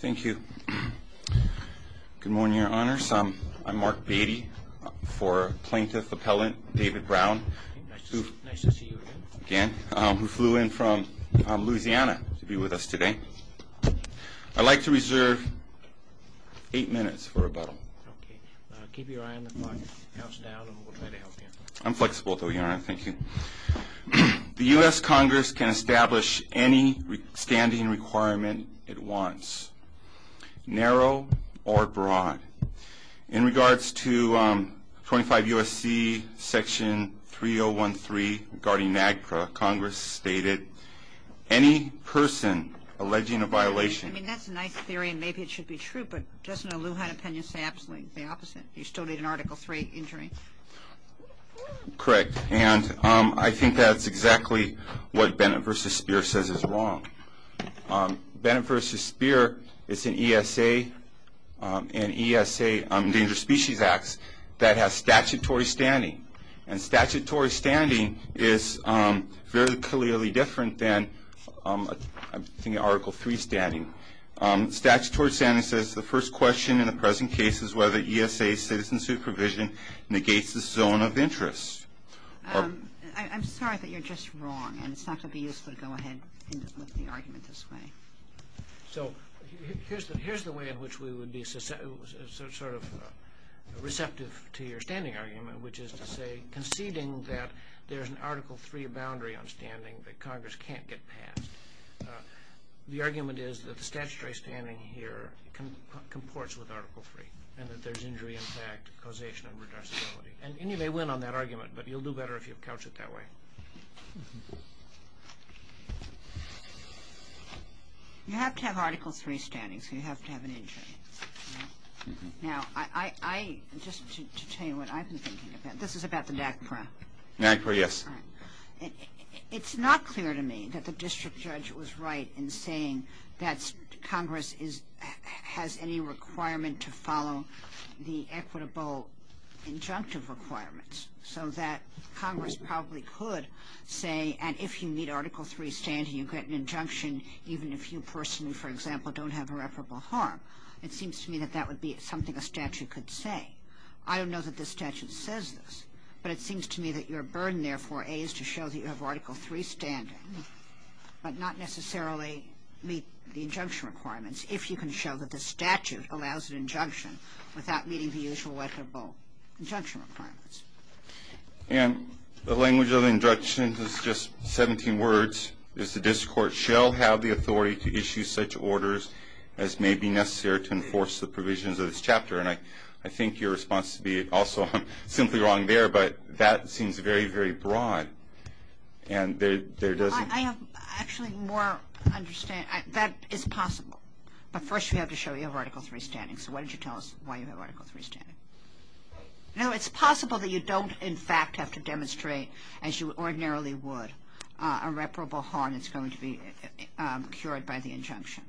Thank you. Good morning, Your Honors. I'm Mark Beatty for Plaintiff Appellant David Brown. Nice to see you again. Again. Who flew in from Louisiana to be with us today. I'd like to reserve eight minutes for rebuttal. Okay. Keep your eye on the clock. Count us down and we'll try to help you. I'm flexible though, Your Honor. Thank you. The U.S. Congress can establish any standing requirement it wants, narrow or broad. In regards to 25 U.S.C. Section 3013 regarding NAGPRA, Congress stated any person alleging a violation. I mean, that's a nice theory and maybe it should be true, but doesn't a Lehigh opinion say absolutely the opposite? You still need an Article III injury. Correct. And I think that's exactly what Bennett v. Speer says is wrong. Bennett v. Speer is an ESA, an ESA Endangered Species Act that has statutory standing. And statutory standing is very clearly different than, I think, Article III standing. Statutory standing says the first question in the present case is whether ESA citizen supervision negates the zone of interest. I'm sorry, but you're just wrong. And it's not going to be useful to go ahead and look at the argument this way. So here's the way in which we would be sort of receptive to your standing argument, which is to say conceding that there's an Article III boundary on standing that Congress can't get past. The argument is that the statutory standing here comports with Article III and that there's injury, impact, causation, and reducibility. And you may win on that argument, but you'll do better if you couch it that way. You have to have Article III standing, so you have to have an injury. Now, just to tell you what I've been thinking about, this is about the NAGPRA. NAGPRA, yes. It's not clear to me that the district judge was right in saying that Congress has any requirement to follow the equitable injunctive requirements so that Congress probably could say, and if you meet Article III standing, you get an injunction, even if you personally, for example, don't have irreparable harm. It seems to me that that would be something a statute could say. I don't know that this statute says this, but it seems to me that your burden, therefore, A, is to show that you have Article III standing, but not necessarily meet the injunction requirements, if you can show that the statute allows an injunction without meeting the usual equitable injunction requirements. And the language of the injunction is just 17 words. The district court shall have the authority to issue such orders as may be necessary to enforce the provisions of this chapter. And I think your response to me, also, I'm simply wrong there, but that seems very, very broad. I have actually more understanding. That is possible. But first you have to show you have Article III standing. So why don't you tell us why you have Article III standing? No, it's possible that you don't, in fact, have to demonstrate, as you ordinarily would, irreparable harm that's going to be incurred by the injunction.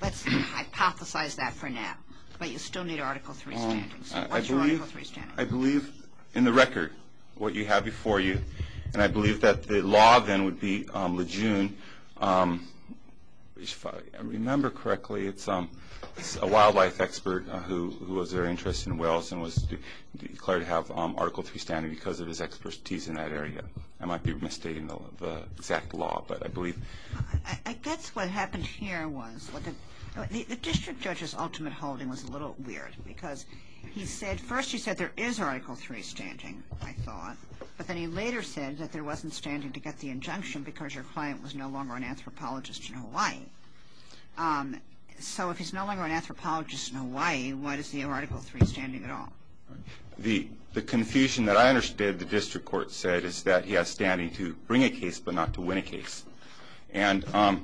Let's hypothesize that for now. But you still need Article III standing. So what's your Article III standing? I believe, in the record, what you have before you. And I believe that the law, then, would be Lejeune. If I remember correctly, it's a wildlife expert who was very interested in whales and was declared to have Article III standing because of his expertise in that area. I guess what happened here was the district judge's ultimate holding was a little weird because first he said there is Article III standing, I thought, but then he later said that there wasn't standing to get the injunction because your client was no longer an anthropologist in Hawaii. So if he's no longer an anthropologist in Hawaii, what is the Article III standing at all? The confusion that I understood the district court said is that he has standing to bring a case but not to win a case. And under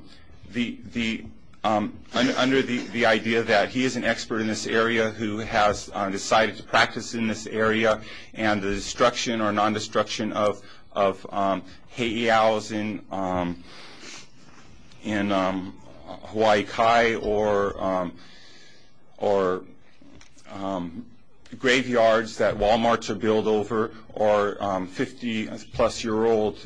the idea that he is an expert in this area who has decided to practice in this area and the destruction or non-destruction of heiau's in Hawaii Kai or graveyards that Wal-Marts are billed over or 50-plus-year-old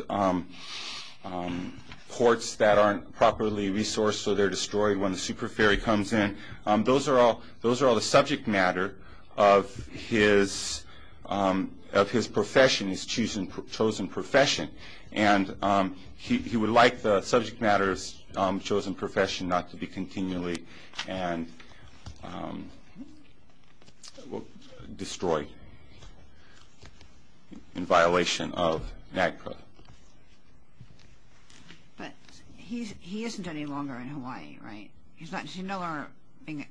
courts that aren't properly resourced so they're destroyed when the super ferry comes in. Those are all the subject matter of his profession, his chosen profession. And he would like the subject matter's chosen profession not to be continually destroyed in violation of NAGPRA. But he isn't any longer in Hawaii, right? He's no longer an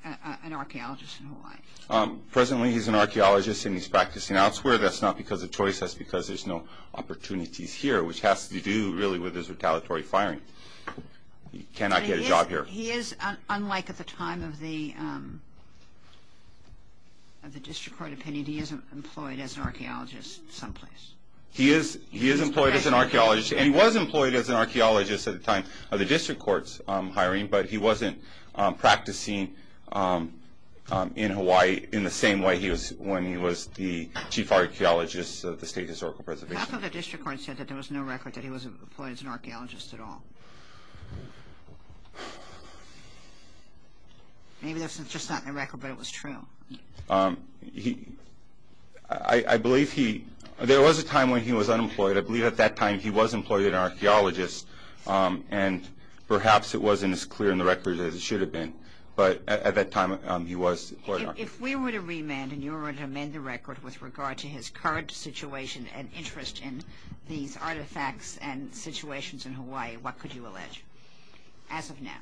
archaeologist in Hawaii. Presently he's an archaeologist and he's practicing elsewhere. That's not because of choice, that's because there's no opportunities here, which has to do really with his retaliatory firing. He cannot get a job here. He is, unlike at the time of the district court opinion, he isn't employed as an archaeologist someplace. He is employed as an archaeologist and he was employed as an archaeologist at the time of the district court's hiring, but he wasn't practicing in Hawaii in the same way he was when he was the chief archaeologist of the State Historical Preservation. Half of the district court said that there was no record that he was employed as an archaeologist at all. Maybe that's just not in the record, but it was true. I believe there was a time when he was unemployed. But I believe at that time he was employed as an archaeologist and perhaps it wasn't as clear in the record as it should have been. But at that time he was employed as an archaeologist. If we were to remand and you were to amend the record with regard to his current situation and interest in these artifacts and situations in Hawaii, what could you allege as of now?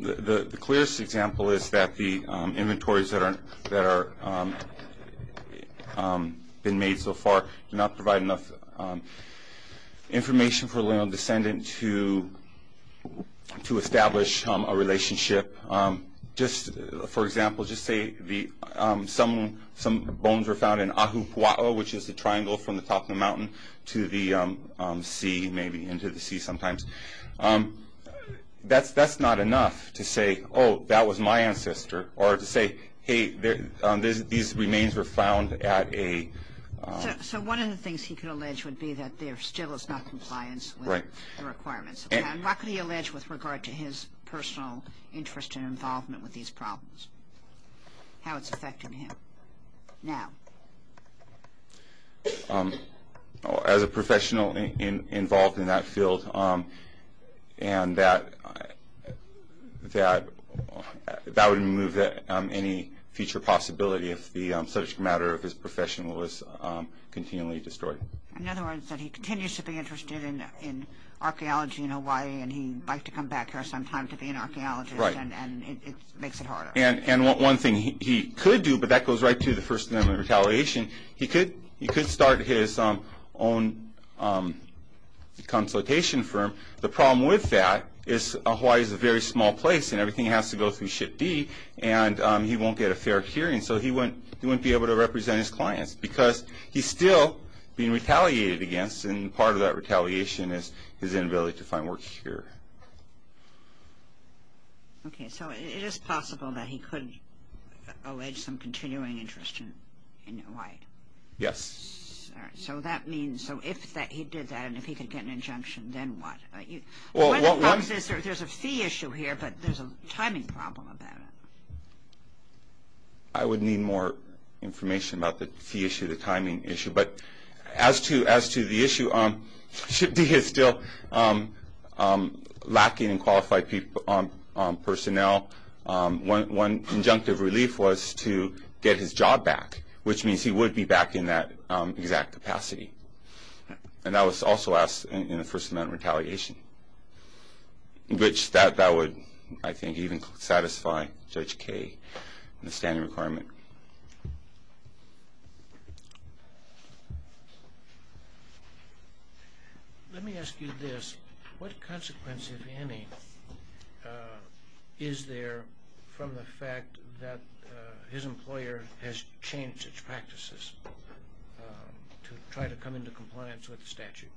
The clearest example is that the inventories that have been made so far do not provide enough information for a descendant to establish a relationship. For example, just say some bones were found in Ahupua'a, which is the triangle from the top of the mountain to the sea, maybe into the sea sometimes. That's not enough to say, oh, that was my ancestor, or to say, hey, these remains were found at a... So one of the things he could allege would be that there still is not compliance with the requirements. What could he allege with regard to his personal interest and involvement with these problems? How it's affecting him now? As a professional involved in that field, that would remove any future possibility if the subject matter of his profession was continually destroyed. In other words, that he continues to be interested in archaeology in Hawaii and he'd like to come back here sometime to be an archaeologist, and it makes it harder. And one thing he could do, but that goes right to the First Amendment retaliation, he could start his own consultation firm. The problem with that is Hawaii is a very small place, and everything has to go through Ship D, and he won't get a fair hearing, so he wouldn't be able to represent his clients because he's still being retaliated against, and part of that retaliation is his inability to find work here. Okay, so it is possible that he could allege some continuing interest in Hawaii? Yes. So that means, so if he did that and if he could get an injunction, then what? One of the problems is there's a fee issue here, but there's a timing problem about it. I would need more information about the fee issue, the timing issue. But as to the issue, Ship D is still lacking in qualified personnel. One injunctive relief was to get his job back, which means he would be back in that exact capacity, and that was also asked in the First Amendment retaliation, which that would, I think, even satisfy Judge Kaye in the standing requirement. Let me ask you this. What consequence, if any, is there from the fact that his employer has changed its practices to try to come into compliance with the statute?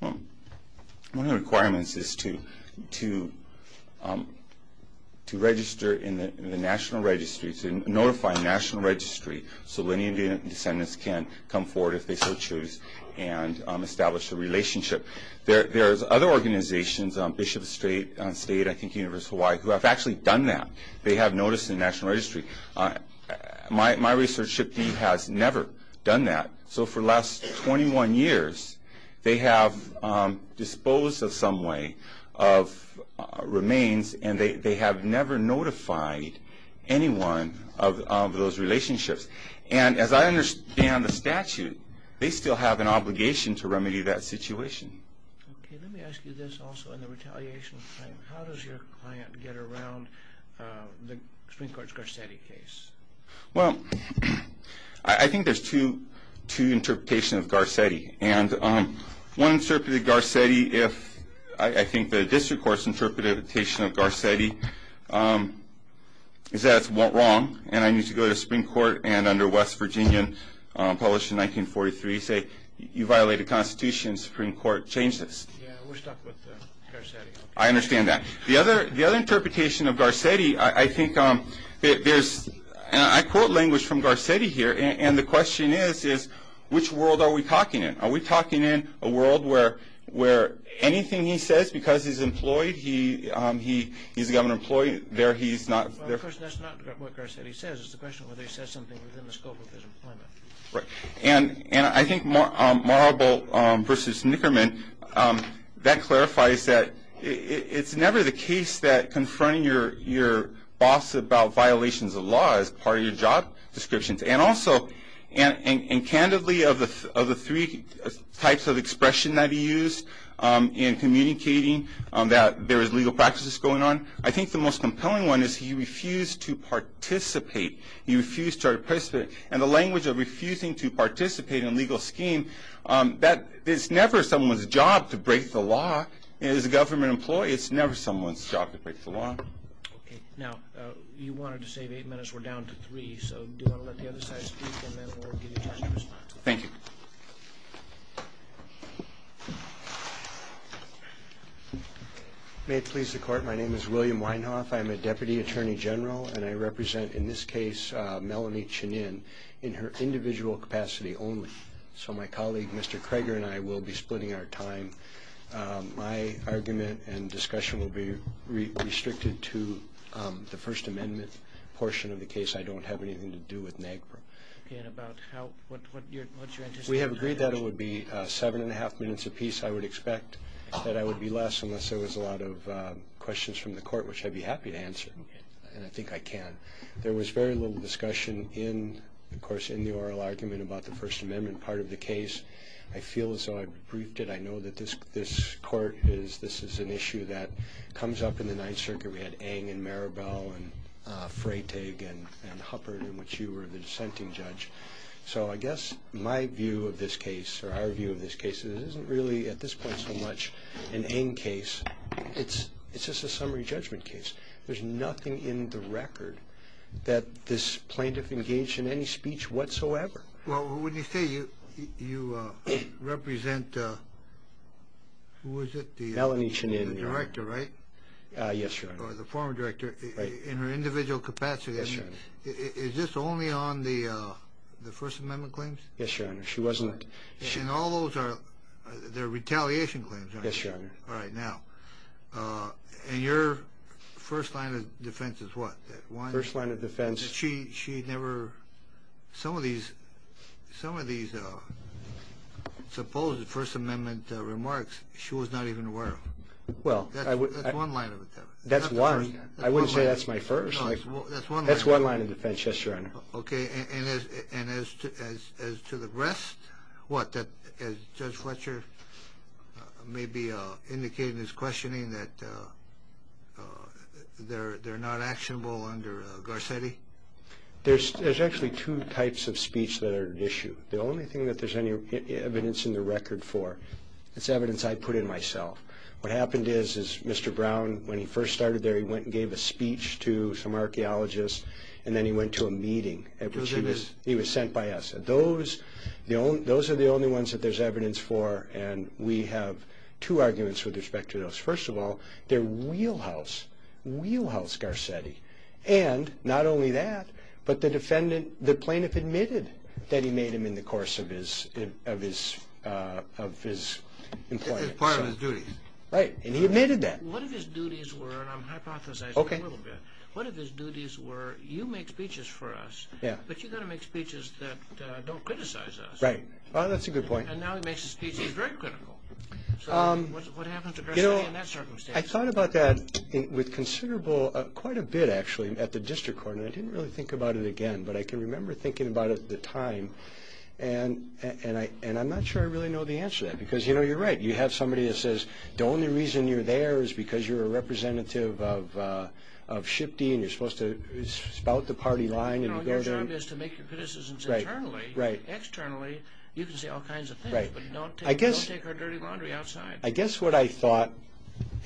Well, one of the requirements is to register in the National Registry, to notify the National Registry so any descendants can come forward if they so choose and establish a relationship. There's other organizations, Bishop State, I think University of Hawaii, who have actually done that. They have noticed in the National Registry. My research, Ship D has never done that. So for the last 21 years, they have disposed of some way of remains, and they have never notified anyone of those relationships. And as I understand the statute, they still have an obligation to remedy that situation. Okay, let me ask you this also in the retaliation. How does your client get around the Supreme Court's Garcetti case? Well, I think there's two interpretations of Garcetti. And one interpretation of Garcetti, I think the district court's interpretation of Garcetti, is that it's wrong, and I need to go to the Supreme Court, and under West Virginia, published in 1943, say you violated the Constitution, and the Supreme Court changed this. Yeah, we're stuck with Garcetti. I understand that. The other interpretation of Garcetti, I think there's, and I quote language from Garcetti here, and the question is, is which world are we talking in? Are we talking in a world where anything he says because he's employed, he's got an employee, there he's not. Well, of course, that's not what Garcetti says. It's a question of whether he says something within the scope of his employment. And I think Marble versus Nickerman, that clarifies that it's never the case that confronting your boss about violations of law is part of your job descriptions. And also, and candidly, of the three types of expression that he used in communicating that there is legal practices going on, I think the most compelling one is he refused to participate. He refused to participate. And the language of refusing to participate in a legal scheme, it's never someone's job to break the law. As a government employee, it's never someone's job to break the law. Okay. Now, you wanted to save eight minutes. We're down to three. So do you want to let the other side speak, and then we'll give you time to respond. Thank you. May it please the Court, my name is William Weinhoff. I'm a Deputy Attorney General, and I represent, in this case, Melanie Chinin, in her individual capacity only. So my colleague, Mr. Kroeger, and I will be splitting our time. My argument and discussion will be restricted to the First Amendment portion of the case. I don't have anything to do with NAGPRA. Okay. And about what's your interest? We have agreed that it would be seven and a half minutes apiece. I would expect that I would be less unless there was a lot of questions from the Court, which I'd be happy to answer. Okay. And I think I can. There was very little discussion in, of course, in the oral argument about the First Amendment part of the case. I feel as though I've briefed it. I know that this Court is, this is an issue that comes up in the Ninth Circuit. We had Ng and Maribel and Freytag and Huppert, in which you were the dissenting judge. So I guess my view of this case, or our view of this case, isn't really at this point so much an Ng case. It's just a summary judgment case. There's nothing in the record that this plaintiff engaged in any speech whatsoever. Well, wouldn't you say you represent, who was it, the director, right? Melanie Chinin. Yes, Your Honor. Or the former director. Right. In her individual capacity. Yes, Your Honor. Is this only on the First Amendment claims? Yes, Your Honor. She wasn't. And all those are, they're retaliation claims, aren't they? Yes, Your Honor. All right. Now, in your first line of defense is what? First line of defense. She never, some of these, some of these supposed First Amendment remarks, she was not even aware of. Well, I would. That's one line of defense. That's one. I wouldn't say that's my first. No, that's one line of defense. That's one line of defense. Yes, Your Honor. Okay. And as to the rest, what? As Judge Fletcher may be indicating in his questioning that they're not actionable under Garcetti? There's actually two types of speech that are at issue. The only thing that there's any evidence in the record for is evidence I put in myself. What happened is, is Mr. Brown, when he first started there, he went and gave a speech to some archaeologists, and then he went to a meeting at which he was sent by us. Those are the only ones that there's evidence for, and we have two arguments with respect to those. First of all, they're wheelhouse, wheelhouse Garcetti. And not only that, but the defendant, the plaintiff admitted that he made them in the course of his employment. That is part of his duties. Right, and he admitted that. What if his duties were, and I'm hypothesizing a little bit, what if his duties were, you make speeches for us, but you've got to make speeches that don't criticize us. Right. Well, that's a good point. And now he makes a speech that's very critical. So what happens to Garcetti in that circumstance? I thought about that with considerable, quite a bit actually, at the district court, and I didn't really think about it again, but I can remember thinking about it at the time, and I'm not sure I really know the answer to that because, you know, you're right. You have somebody that says the only reason you're there is because you're a representative of SHPD and you're supposed to spout the party line. You know, your job is to make your criticisms internally. Right, right. Externally, you can say all kinds of things. Right. But don't take our dirty laundry outside. I guess what I thought,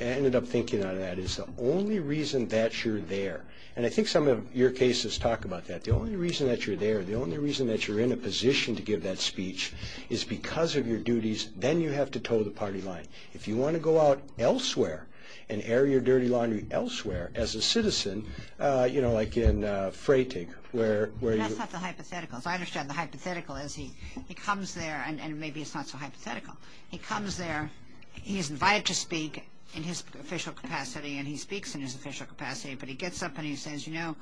and I ended up thinking on that, is the only reason that you're there, and I think some of your cases talk about that. The only reason that you're there, the only reason that you're in a position to give that speech, is because of your duties, then you have to tow the party line. If you want to go out elsewhere and air your dirty laundry elsewhere as a citizen, you know, like in Freytag. That's not the hypothetical. I understand the hypothetical is he comes there, and maybe it's not so hypothetical. He comes there, he's invited to speak in his official capacity, and he speaks in his official capacity, but he gets up and he says, you know,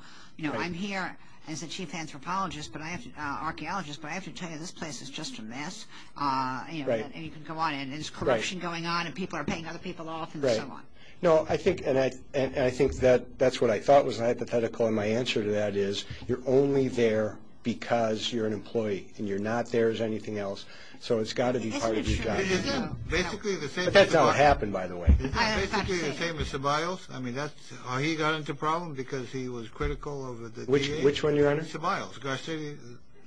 I'm here as a chief anthropologist, archaeologist, but I have to tell you this place is just a mess. Right. And you can go on, and there's corruption going on, and people are paying other people off, and so on. Right. No, I think, and I think that's what I thought was hypothetical, and my answer to that is you're only there because you're an employee, and you're not there as anything else. So it's got to be part of your job. But that's how it happened, by the way. Is that basically the same as Sabayles? I mean, that's, or he got into a problem because he was critical of the DA? Which one, Your Honor? Sabayles, Garcetti,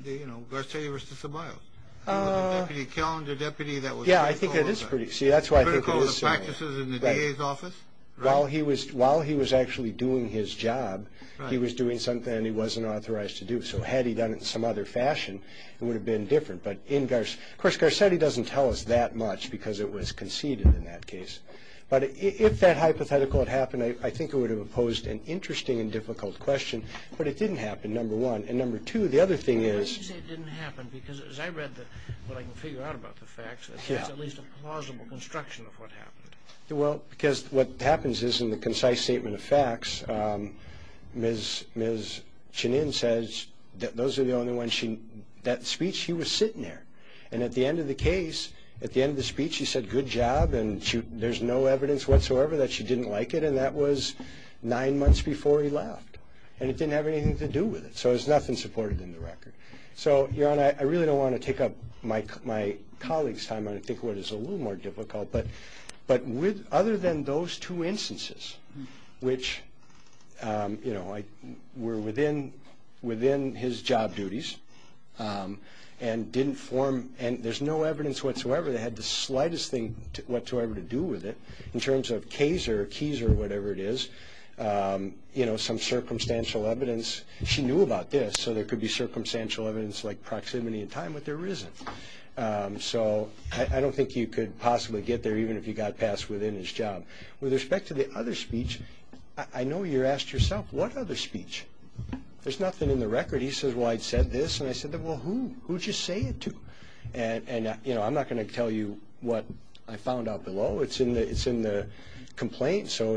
you know, Garcetti v. Sabayles. He was a deputy calendar deputy that was critical of the practices in the DA's office. While he was actually doing his job, he was doing something that he wasn't authorized to do. So had he done it in some other fashion, it would have been different. But, of course, Garcetti doesn't tell us that much because it was conceded in that case. But if that hypothetical had happened, I think it would have posed an interesting and difficult question. But it didn't happen, number one. And, number two, the other thing is— Why do you say it didn't happen? Because as I read what I can figure out about the facts, it's at least a plausible construction of what happened. Well, because what happens is in the concise statement of facts, Ms. Chenin says that those are the only ones she—that speech, she was sitting there. And at the end of the case, at the end of the speech, she said, And there's no evidence whatsoever that she didn't like it, and that was nine months before he left. And it didn't have anything to do with it. So there's nothing supported in the record. So, Your Honor, I really don't want to take up my colleague's time. I think what is a little more difficult. But other than those two instances, which, you know, were within his job duties and didn't form— didn't have anything whatsoever to do with it, in terms of case or keys or whatever it is, you know, some circumstantial evidence, she knew about this. So there could be circumstantial evidence like proximity in time, but there isn't. So I don't think you could possibly get there even if you got past within his job. With respect to the other speech, I know you asked yourself, What other speech? There's nothing in the record. He says, Well, I said this. And I said, Well, who? Who'd you say it to? And, you know, I'm not going to tell you what I found out below. It's in the complaint. So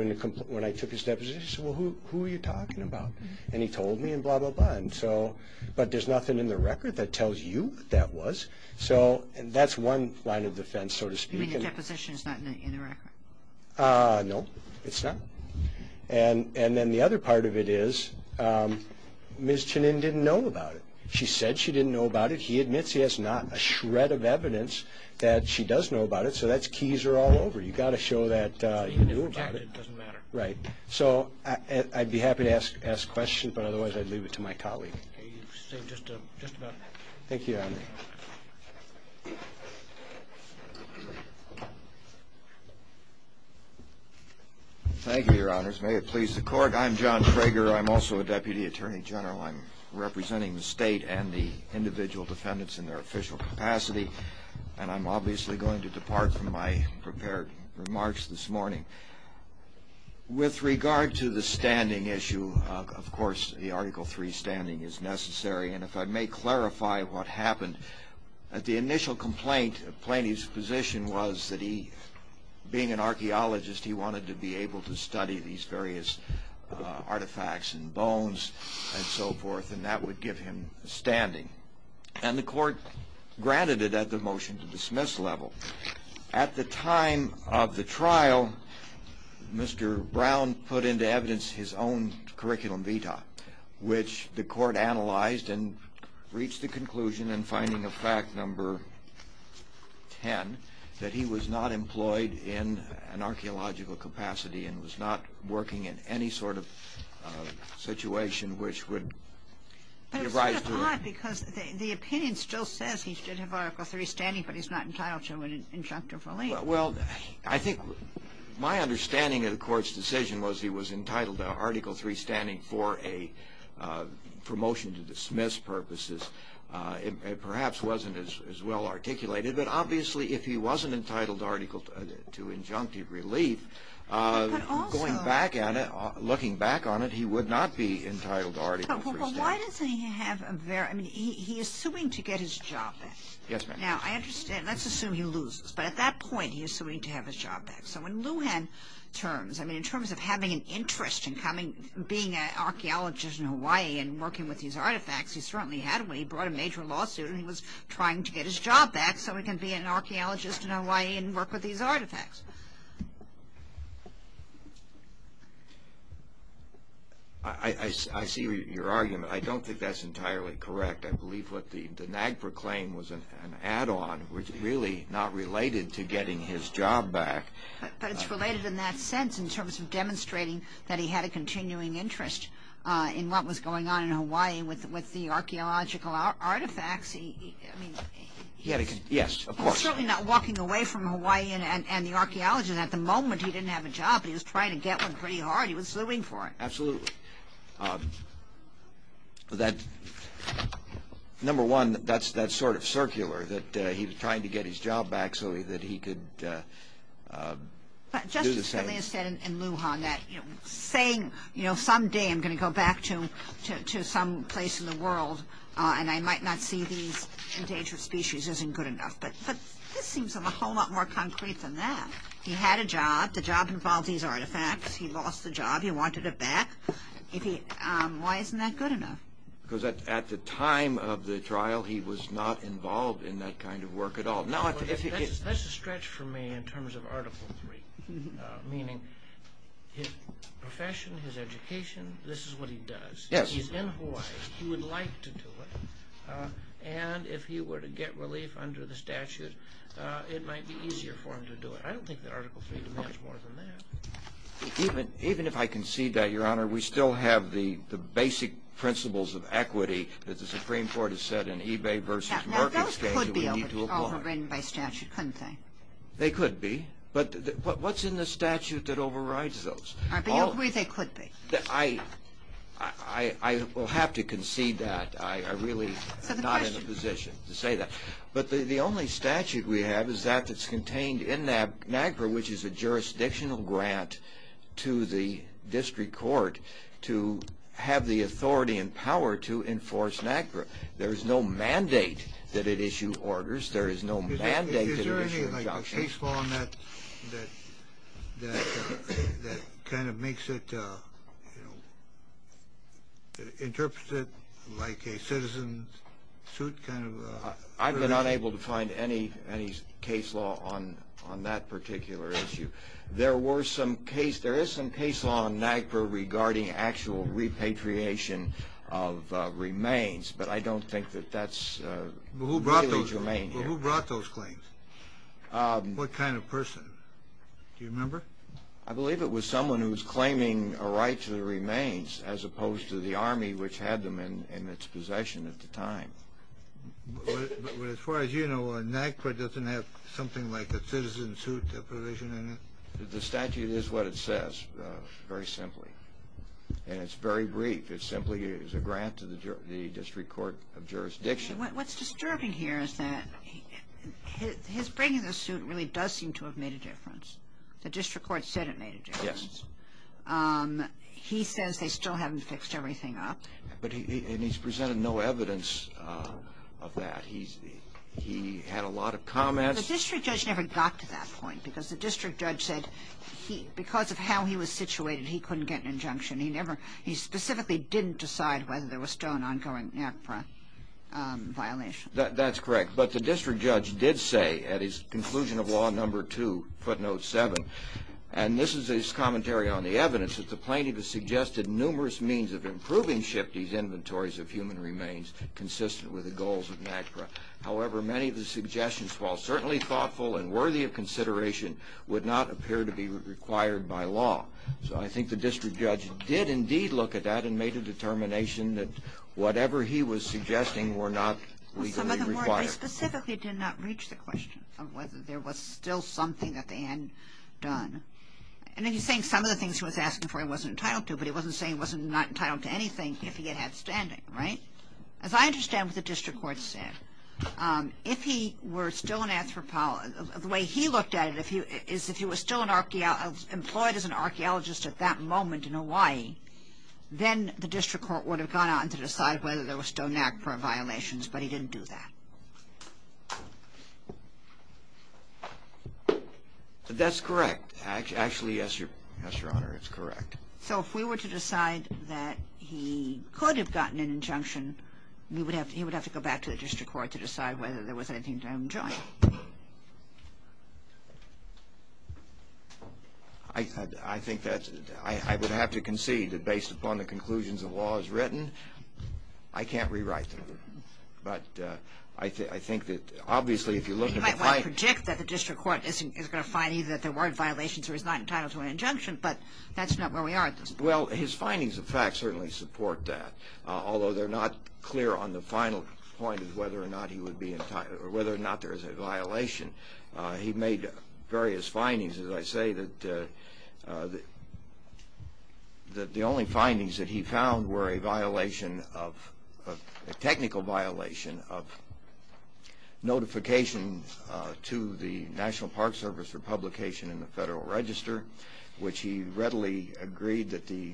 when I took his deposition, I said, Well, who are you talking about? And he told me, and blah, blah, blah. But there's nothing in the record that tells you what that was. So that's one line of defense, so to speak. You mean the deposition is not in the record? No, it's not. And then the other part of it is Ms. Chenin didn't know about it. She said she didn't know about it. He admits he has not a shred of evidence that she does know about it. So that's keys are all over. You've got to show that you knew about it. It doesn't matter. Right. So I'd be happy to ask questions, but otherwise I'd leave it to my colleague. Okay, you've said just about everything. Thank you, Your Honor. Thank you, Your Honors. May it please the Court. I'm John Trager. I'm also a Deputy Attorney General. I'm representing the state and the individual defendants in their official capacity. And I'm obviously going to depart from my prepared remarks this morning. With regard to the standing issue, of course, the Article III standing is necessary. And if I may clarify what happened. The initial complaint of Planey's position was that he, being an archaeologist, he wanted to be able to study these various artifacts and bones. And so forth. And that would give him standing. And the Court granted it at the motion-to-dismiss level. At the time of the trial, Mr. Brown put into evidence his own curriculum vitae, which the Court analyzed and reached the conclusion in finding of fact number 10, that he was not employed in an archaeological capacity and was not working in any sort of situation which would give rise to a- But it's sort of odd because the opinion still says he should have Article III standing, but he's not entitled to an injunctive relief. Well, I think my understanding of the Court's decision was he was entitled to Article III standing for motion-to-dismiss purposes. It perhaps wasn't as well articulated. But obviously, if he wasn't entitled to injunctive relief, going back at it, looking back on it, he would not be entitled to Article III standing. Well, why does he have a very- I mean, he is suing to get his job back. Yes, ma'am. Now, I understand. Let's assume he loses. But at that point, he is suing to have his job back. So in Lujan terms, I mean, in terms of having an interest in coming, being an archaeologist in Hawaii and working with these artifacts, he certainly had when he brought a major lawsuit and he was trying to get his job back so he can be an archaeologist in Hawaii and work with these artifacts. I see your argument. I don't think that's entirely correct. I believe what the NAGPRA claimed was an add-on, which is really not related to getting his job back. But it's related in that sense in terms of demonstrating that he had a continuing interest in what was going on in Hawaii with the archaeological artifacts. Yes, of course. He's certainly not walking away from Hawaii and the archaeology. At the moment, he didn't have a job, but he was trying to get one pretty hard. He was suing for it. Absolutely. Number one, that's sort of circular, that he was trying to get his job back so that he could do the same. Justice Scalia said in Lujan that saying someday I'm going to go back to some place in the world and I might not see these endangered species isn't good enough. But this seems a whole lot more concrete than that. He had a job. The job involved these artifacts. He lost the job. He wanted it back. Why isn't that good enough? Because at the time of the trial, he was not involved in that kind of work at all. That's a stretch for me in terms of Article III, meaning his profession, his education, this is what he does. He's in Hawaii. He would like to do it. And if he were to get relief under the statute, it might be easier for him to do it. I don't think that Article III demands more than that. Even if I concede that, Your Honor, we still have the basic principles of equity that the Supreme Court has said in eBay versus market exchange that we need to abhor. Those could be overridden by statute, couldn't they? They could be. But what's in the statute that overrides those? Are you agree they could be? I will have to concede that. I'm really not in a position to say that. But the only statute we have is that that's contained in NAGPRA, which is a jurisdictional grant to the district court to have the authority and power to enforce NAGPRA. There is no mandate that it issue orders. There is no mandate that it issue injunctions. Is there any case law that kind of makes it, you know, interprets it like a citizen suit kind of? I've been unable to find any case law on that particular issue. There is some case law on NAGPRA regarding actual repatriation of remains, but I don't think that that's really germane here. Who brought those claims? What kind of person? Do you remember? I believe it was someone who was claiming a right to the remains as opposed to the Army, which had them in its possession at the time. But as far as you know, NAGPRA doesn't have something like a citizen suit provision in it? The statute is what it says, very simply. And it's very brief. It simply is a grant to the district court of jurisdiction. What's disturbing here is that his bringing the suit really does seem to have made a difference. The district court said it made a difference. Yes. He says they still haven't fixed everything up. And he's presented no evidence of that. He had a lot of comments. The district judge never got to that point because the district judge said because of how he was situated, he couldn't get an injunction. He specifically didn't decide whether there was still an ongoing NAGPRA violation. That's correct. But the district judge did say at his conclusion of Law No. 2, footnote 7, and this is his commentary on the evidence, that the plaintiff has suggested numerous means of improving shifty inventories of human remains, consistent with the goals of NAGPRA. However, many of the suggestions, while certainly thoughtful and worthy of consideration, would not appear to be required by law. So I think the district judge did indeed look at that He specifically did not reach the question of whether there was still something that they hadn't done. And he's saying some of the things he was asking for he wasn't entitled to, but he wasn't saying he wasn't entitled to anything if he had had standing, right? As I understand what the district court said, if he were still an anthropologist, the way he looked at it is if he was still employed as an archaeologist at that moment in Hawaii, then the district court would have gone on to decide whether there was still NAGPRA violations, but he didn't do that. That's correct. Actually, yes, Your Honor, it's correct. So if we were to decide that he could have gotten an injunction, he would have to go back to the district court to decide whether there was anything to enjoin. I think that I would have to concede that based upon the conclusions of law as written, I can't rewrite them. But I think that obviously if you look at the findings You might want to predict that the district court is going to find either that there weren't violations or he's not entitled to an injunction, but that's not where we are at this point. Well, his findings of fact certainly support that, although they're not clear on the final point of whether or not he would be entitled or whether or not there is a violation. He made various findings. As I say, the only findings that he found were a violation, a technical violation of notification to the National Park Service for publication in the Federal Register, which he readily agreed that the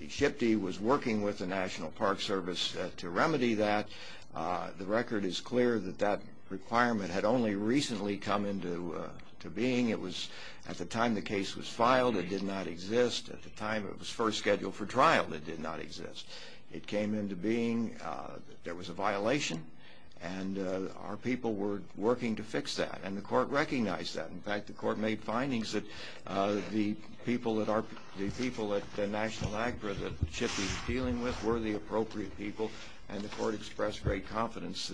SHPD was working with the National Park Service to remedy that. The record is clear that that requirement had only recently come into being. At the time the case was filed, it did not exist. At the time it was first scheduled for trial, it did not exist. It came into being that there was a violation, and our people were working to fix that, and the court recognized that. In fact, the court made findings that the people at National Agra that SHPD was dealing with were the appropriate people, and the court expressed great confidence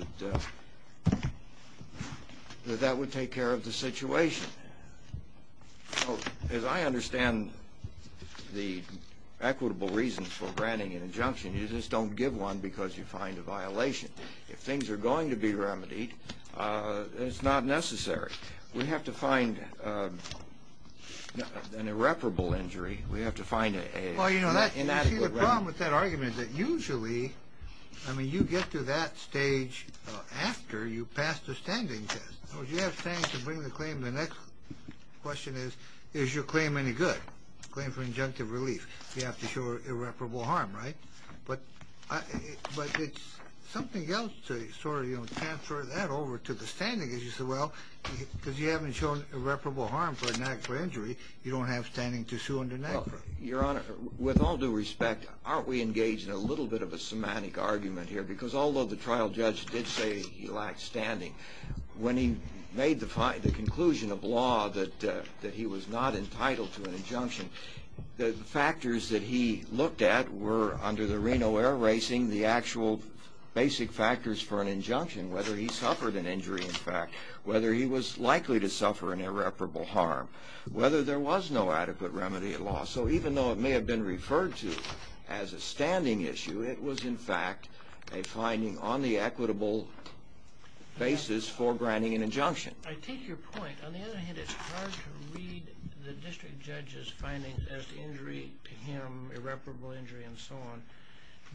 that that would take care of the situation. As I understand the equitable reasons for granting an injunction, you just don't give one because you find a violation. If things are going to be remedied, it's not necessary. We have to find an irreparable injury. Well, you see the problem with that argument is that usually you get to that stage after you pass the standing test. So if you have standing to bring the claim, the next question is, is your claim any good? Claim for injunctive relief. You have to show irreparable harm, right? But it's something else to sort of transfer that over to the standing, because you haven't shown irreparable harm for an act of injury. You don't have standing to sue under NAGPRA. Your Honor, with all due respect, aren't we engaged in a little bit of a semantic argument here? Because although the trial judge did say he lacked standing, when he made the conclusion of law that he was not entitled to an injunction, the factors that he looked at were, under the Reno Air Racing, the actual basic factors for an injunction, whether he suffered an injury, in fact, whether he was likely to suffer an irreparable harm, whether there was no adequate remedy at law. So even though it may have been referred to as a standing issue, it was, in fact, a finding on the equitable basis for granting an injunction. I take your point. On the other hand, it's hard to read the district judge's findings as injury to him, irreparable injury and so on.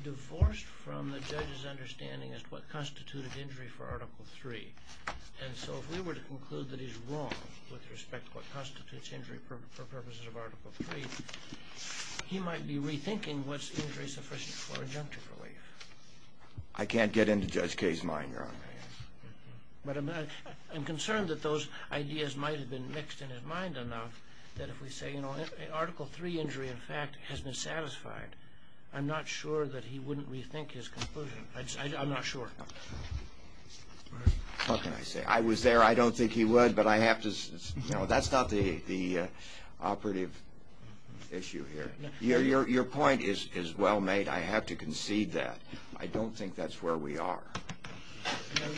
Divorced from the judge's understanding as to what constituted injury for Article III, and so if we were to conclude that he's wrong with respect to what constitutes injury for purposes of Article III, he might be rethinking what's injury sufficient for injunctive relief. I can't get into Judge Kaye's mind, Your Honor. But I'm concerned that those ideas might have been mixed in his mind enough that if we say, you know, Article III injury, in fact, has been satisfied, I'm not sure that he wouldn't rethink his conclusion. I'm not sure. What can I say? I was there. I don't think he would, but I have to say that's not the operative issue here. Your point is well made. I have to concede that. I don't think that's where we are. And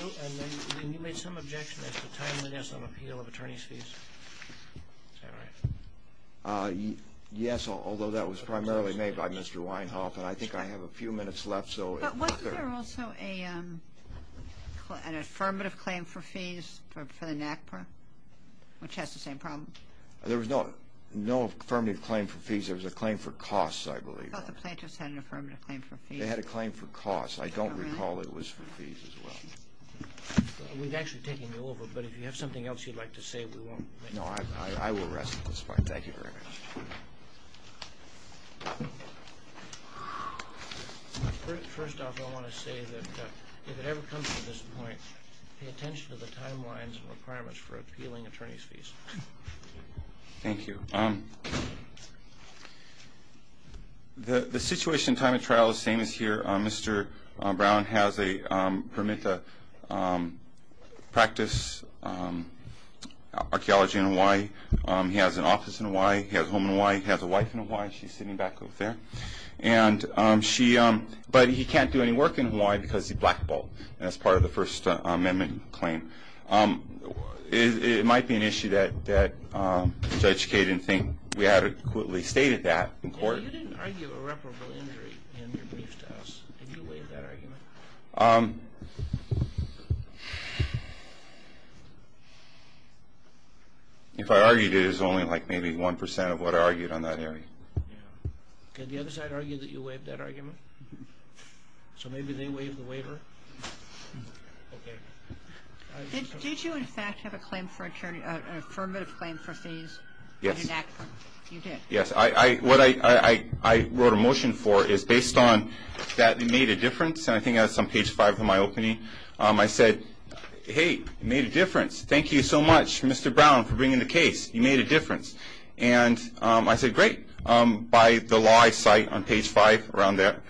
then you made some objection as to timeliness of appeal of attorney's fees. Is that right? Yes, although that was primarily made by Mr. Weinhoff, and I think I have a few minutes left. But wasn't there also an affirmative claim for fees for the NACPR, which has the same problem? There was no affirmative claim for fees. There was a claim for costs, I believe. Both the plaintiffs had an affirmative claim for fees. They had a claim for costs. I don't recall it was for fees as well. We've actually taken you over, but if you have something else you'd like to say, we won't make it. No, I will rest at this point. Thank you very much. First off, I want to say that if it ever comes to this point, pay attention to the timelines and requirements for appealing attorney's fees. Thank you. The situation and time of trial is the same as here. Mr. Brown has a permit to practice archaeology in Hawai'i. He has an office in Hawai'i. He has a home in Hawai'i. He has a wife in Hawai'i. She's sitting back over there. But he can't do any work in Hawai'i because he blackballed, and that's part of the First Amendment claim. It might be an issue that Judge Kaye didn't think we had equitably stated that in court. You didn't argue irreparable injury in your briefs to us. Did you waive that argument? If I argued it, it's only like maybe 1% of what I argued on that hearing. Did the other side argue that you waived that argument? So maybe they waived the waiver? Okay. Did you, in fact, have an affirmative claim for fees? Yes. You did? Yes. What I wrote a motion for is based on that it made a difference, and I think that's on page 5 of my opening. I said, hey, it made a difference. Thank you so much, Mr. Brown, for bringing the case. You made a difference. And I said, great. By the law I cite on page 5, around there,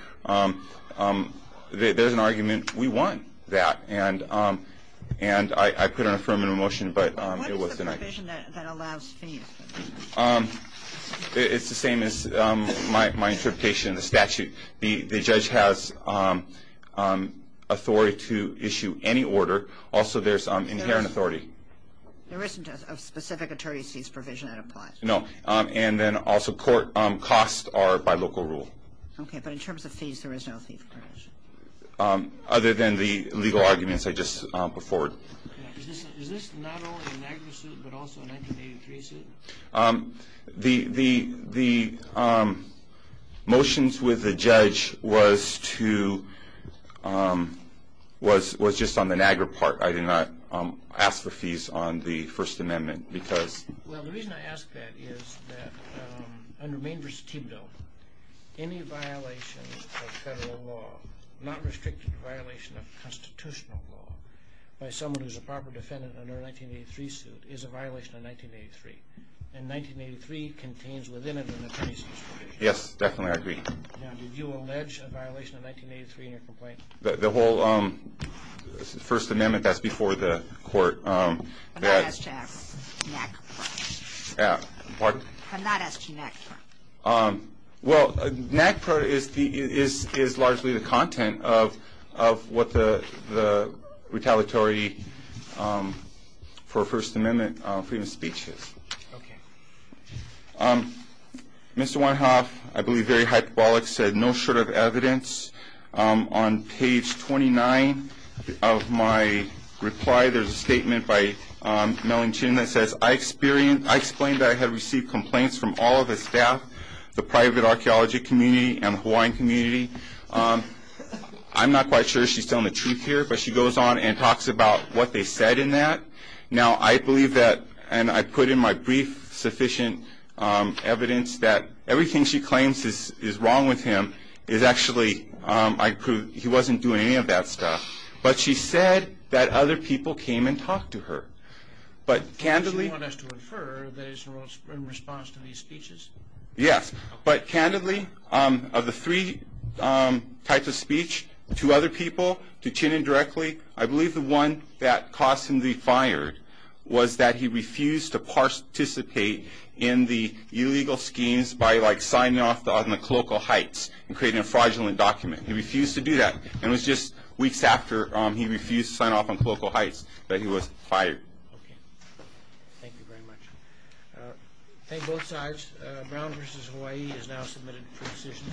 there's an argument. We want that. And I put an affirmative motion, but it was denied. What is the provision that allows fees? It's the same as my interpretation of the statute. The judge has authority to issue any order. Also, there's inherent authority. There isn't a specific attorney's fees provision that applies? No. And then also costs are by local rule. Okay. But in terms of fees, there is no fee provision? Other than the legal arguments I just put forward. Is this not only a Niagara suit but also a 1983 suit? The motions with the judge was just on the Niagara part. I did not ask for fees on the First Amendment. Well, the reason I ask that is that under Maine v. Thibodeau, any violation of federal law, not restricted to violation of constitutional law, by someone who's a proper defendant under a 1983 suit is a violation of 1983. And 1983 contains within it an attorney's fees provision. Yes, definitely. I agree. Now, did you allege a violation of 1983 in your complaint? The whole First Amendment, that's before the court. I'm not asking that. Pardon? I'm not asking that. Well, NAGPRA is largely the content of what the retaliatory for First Amendment freedom of speech is. Okay. Mr. Weinhoff, I believe very hyperbolic, said no short of evidence. On page 29 of my reply, there's a statement by Mellon Chin that says, I explained that I had received complaints from all of the staff, the private archaeology community, and the Hawaiian community. I'm not quite sure she's telling the truth here, but she goes on and talks about what they said in that. Now, I believe that, and I put in my brief sufficient evidence, that everything she claims is wrong with him is actually, he wasn't doing any of that stuff. But she said that other people came and talked to her. Does she want us to infer that it's in response to these speeches? Yes. But candidly, of the three types of speech to other people, to Chin indirectly, I believe the one that caused him to be fired was that he refused to participate in the illegal schemes by signing off on the colloquial heights and creating a fraudulent document. He refused to do that. And it was just weeks after he refused to sign off on colloquial heights that he was fired. Okay. Thank you very much. Thank both sides. Brown v. Hawaii is now submitted for decision.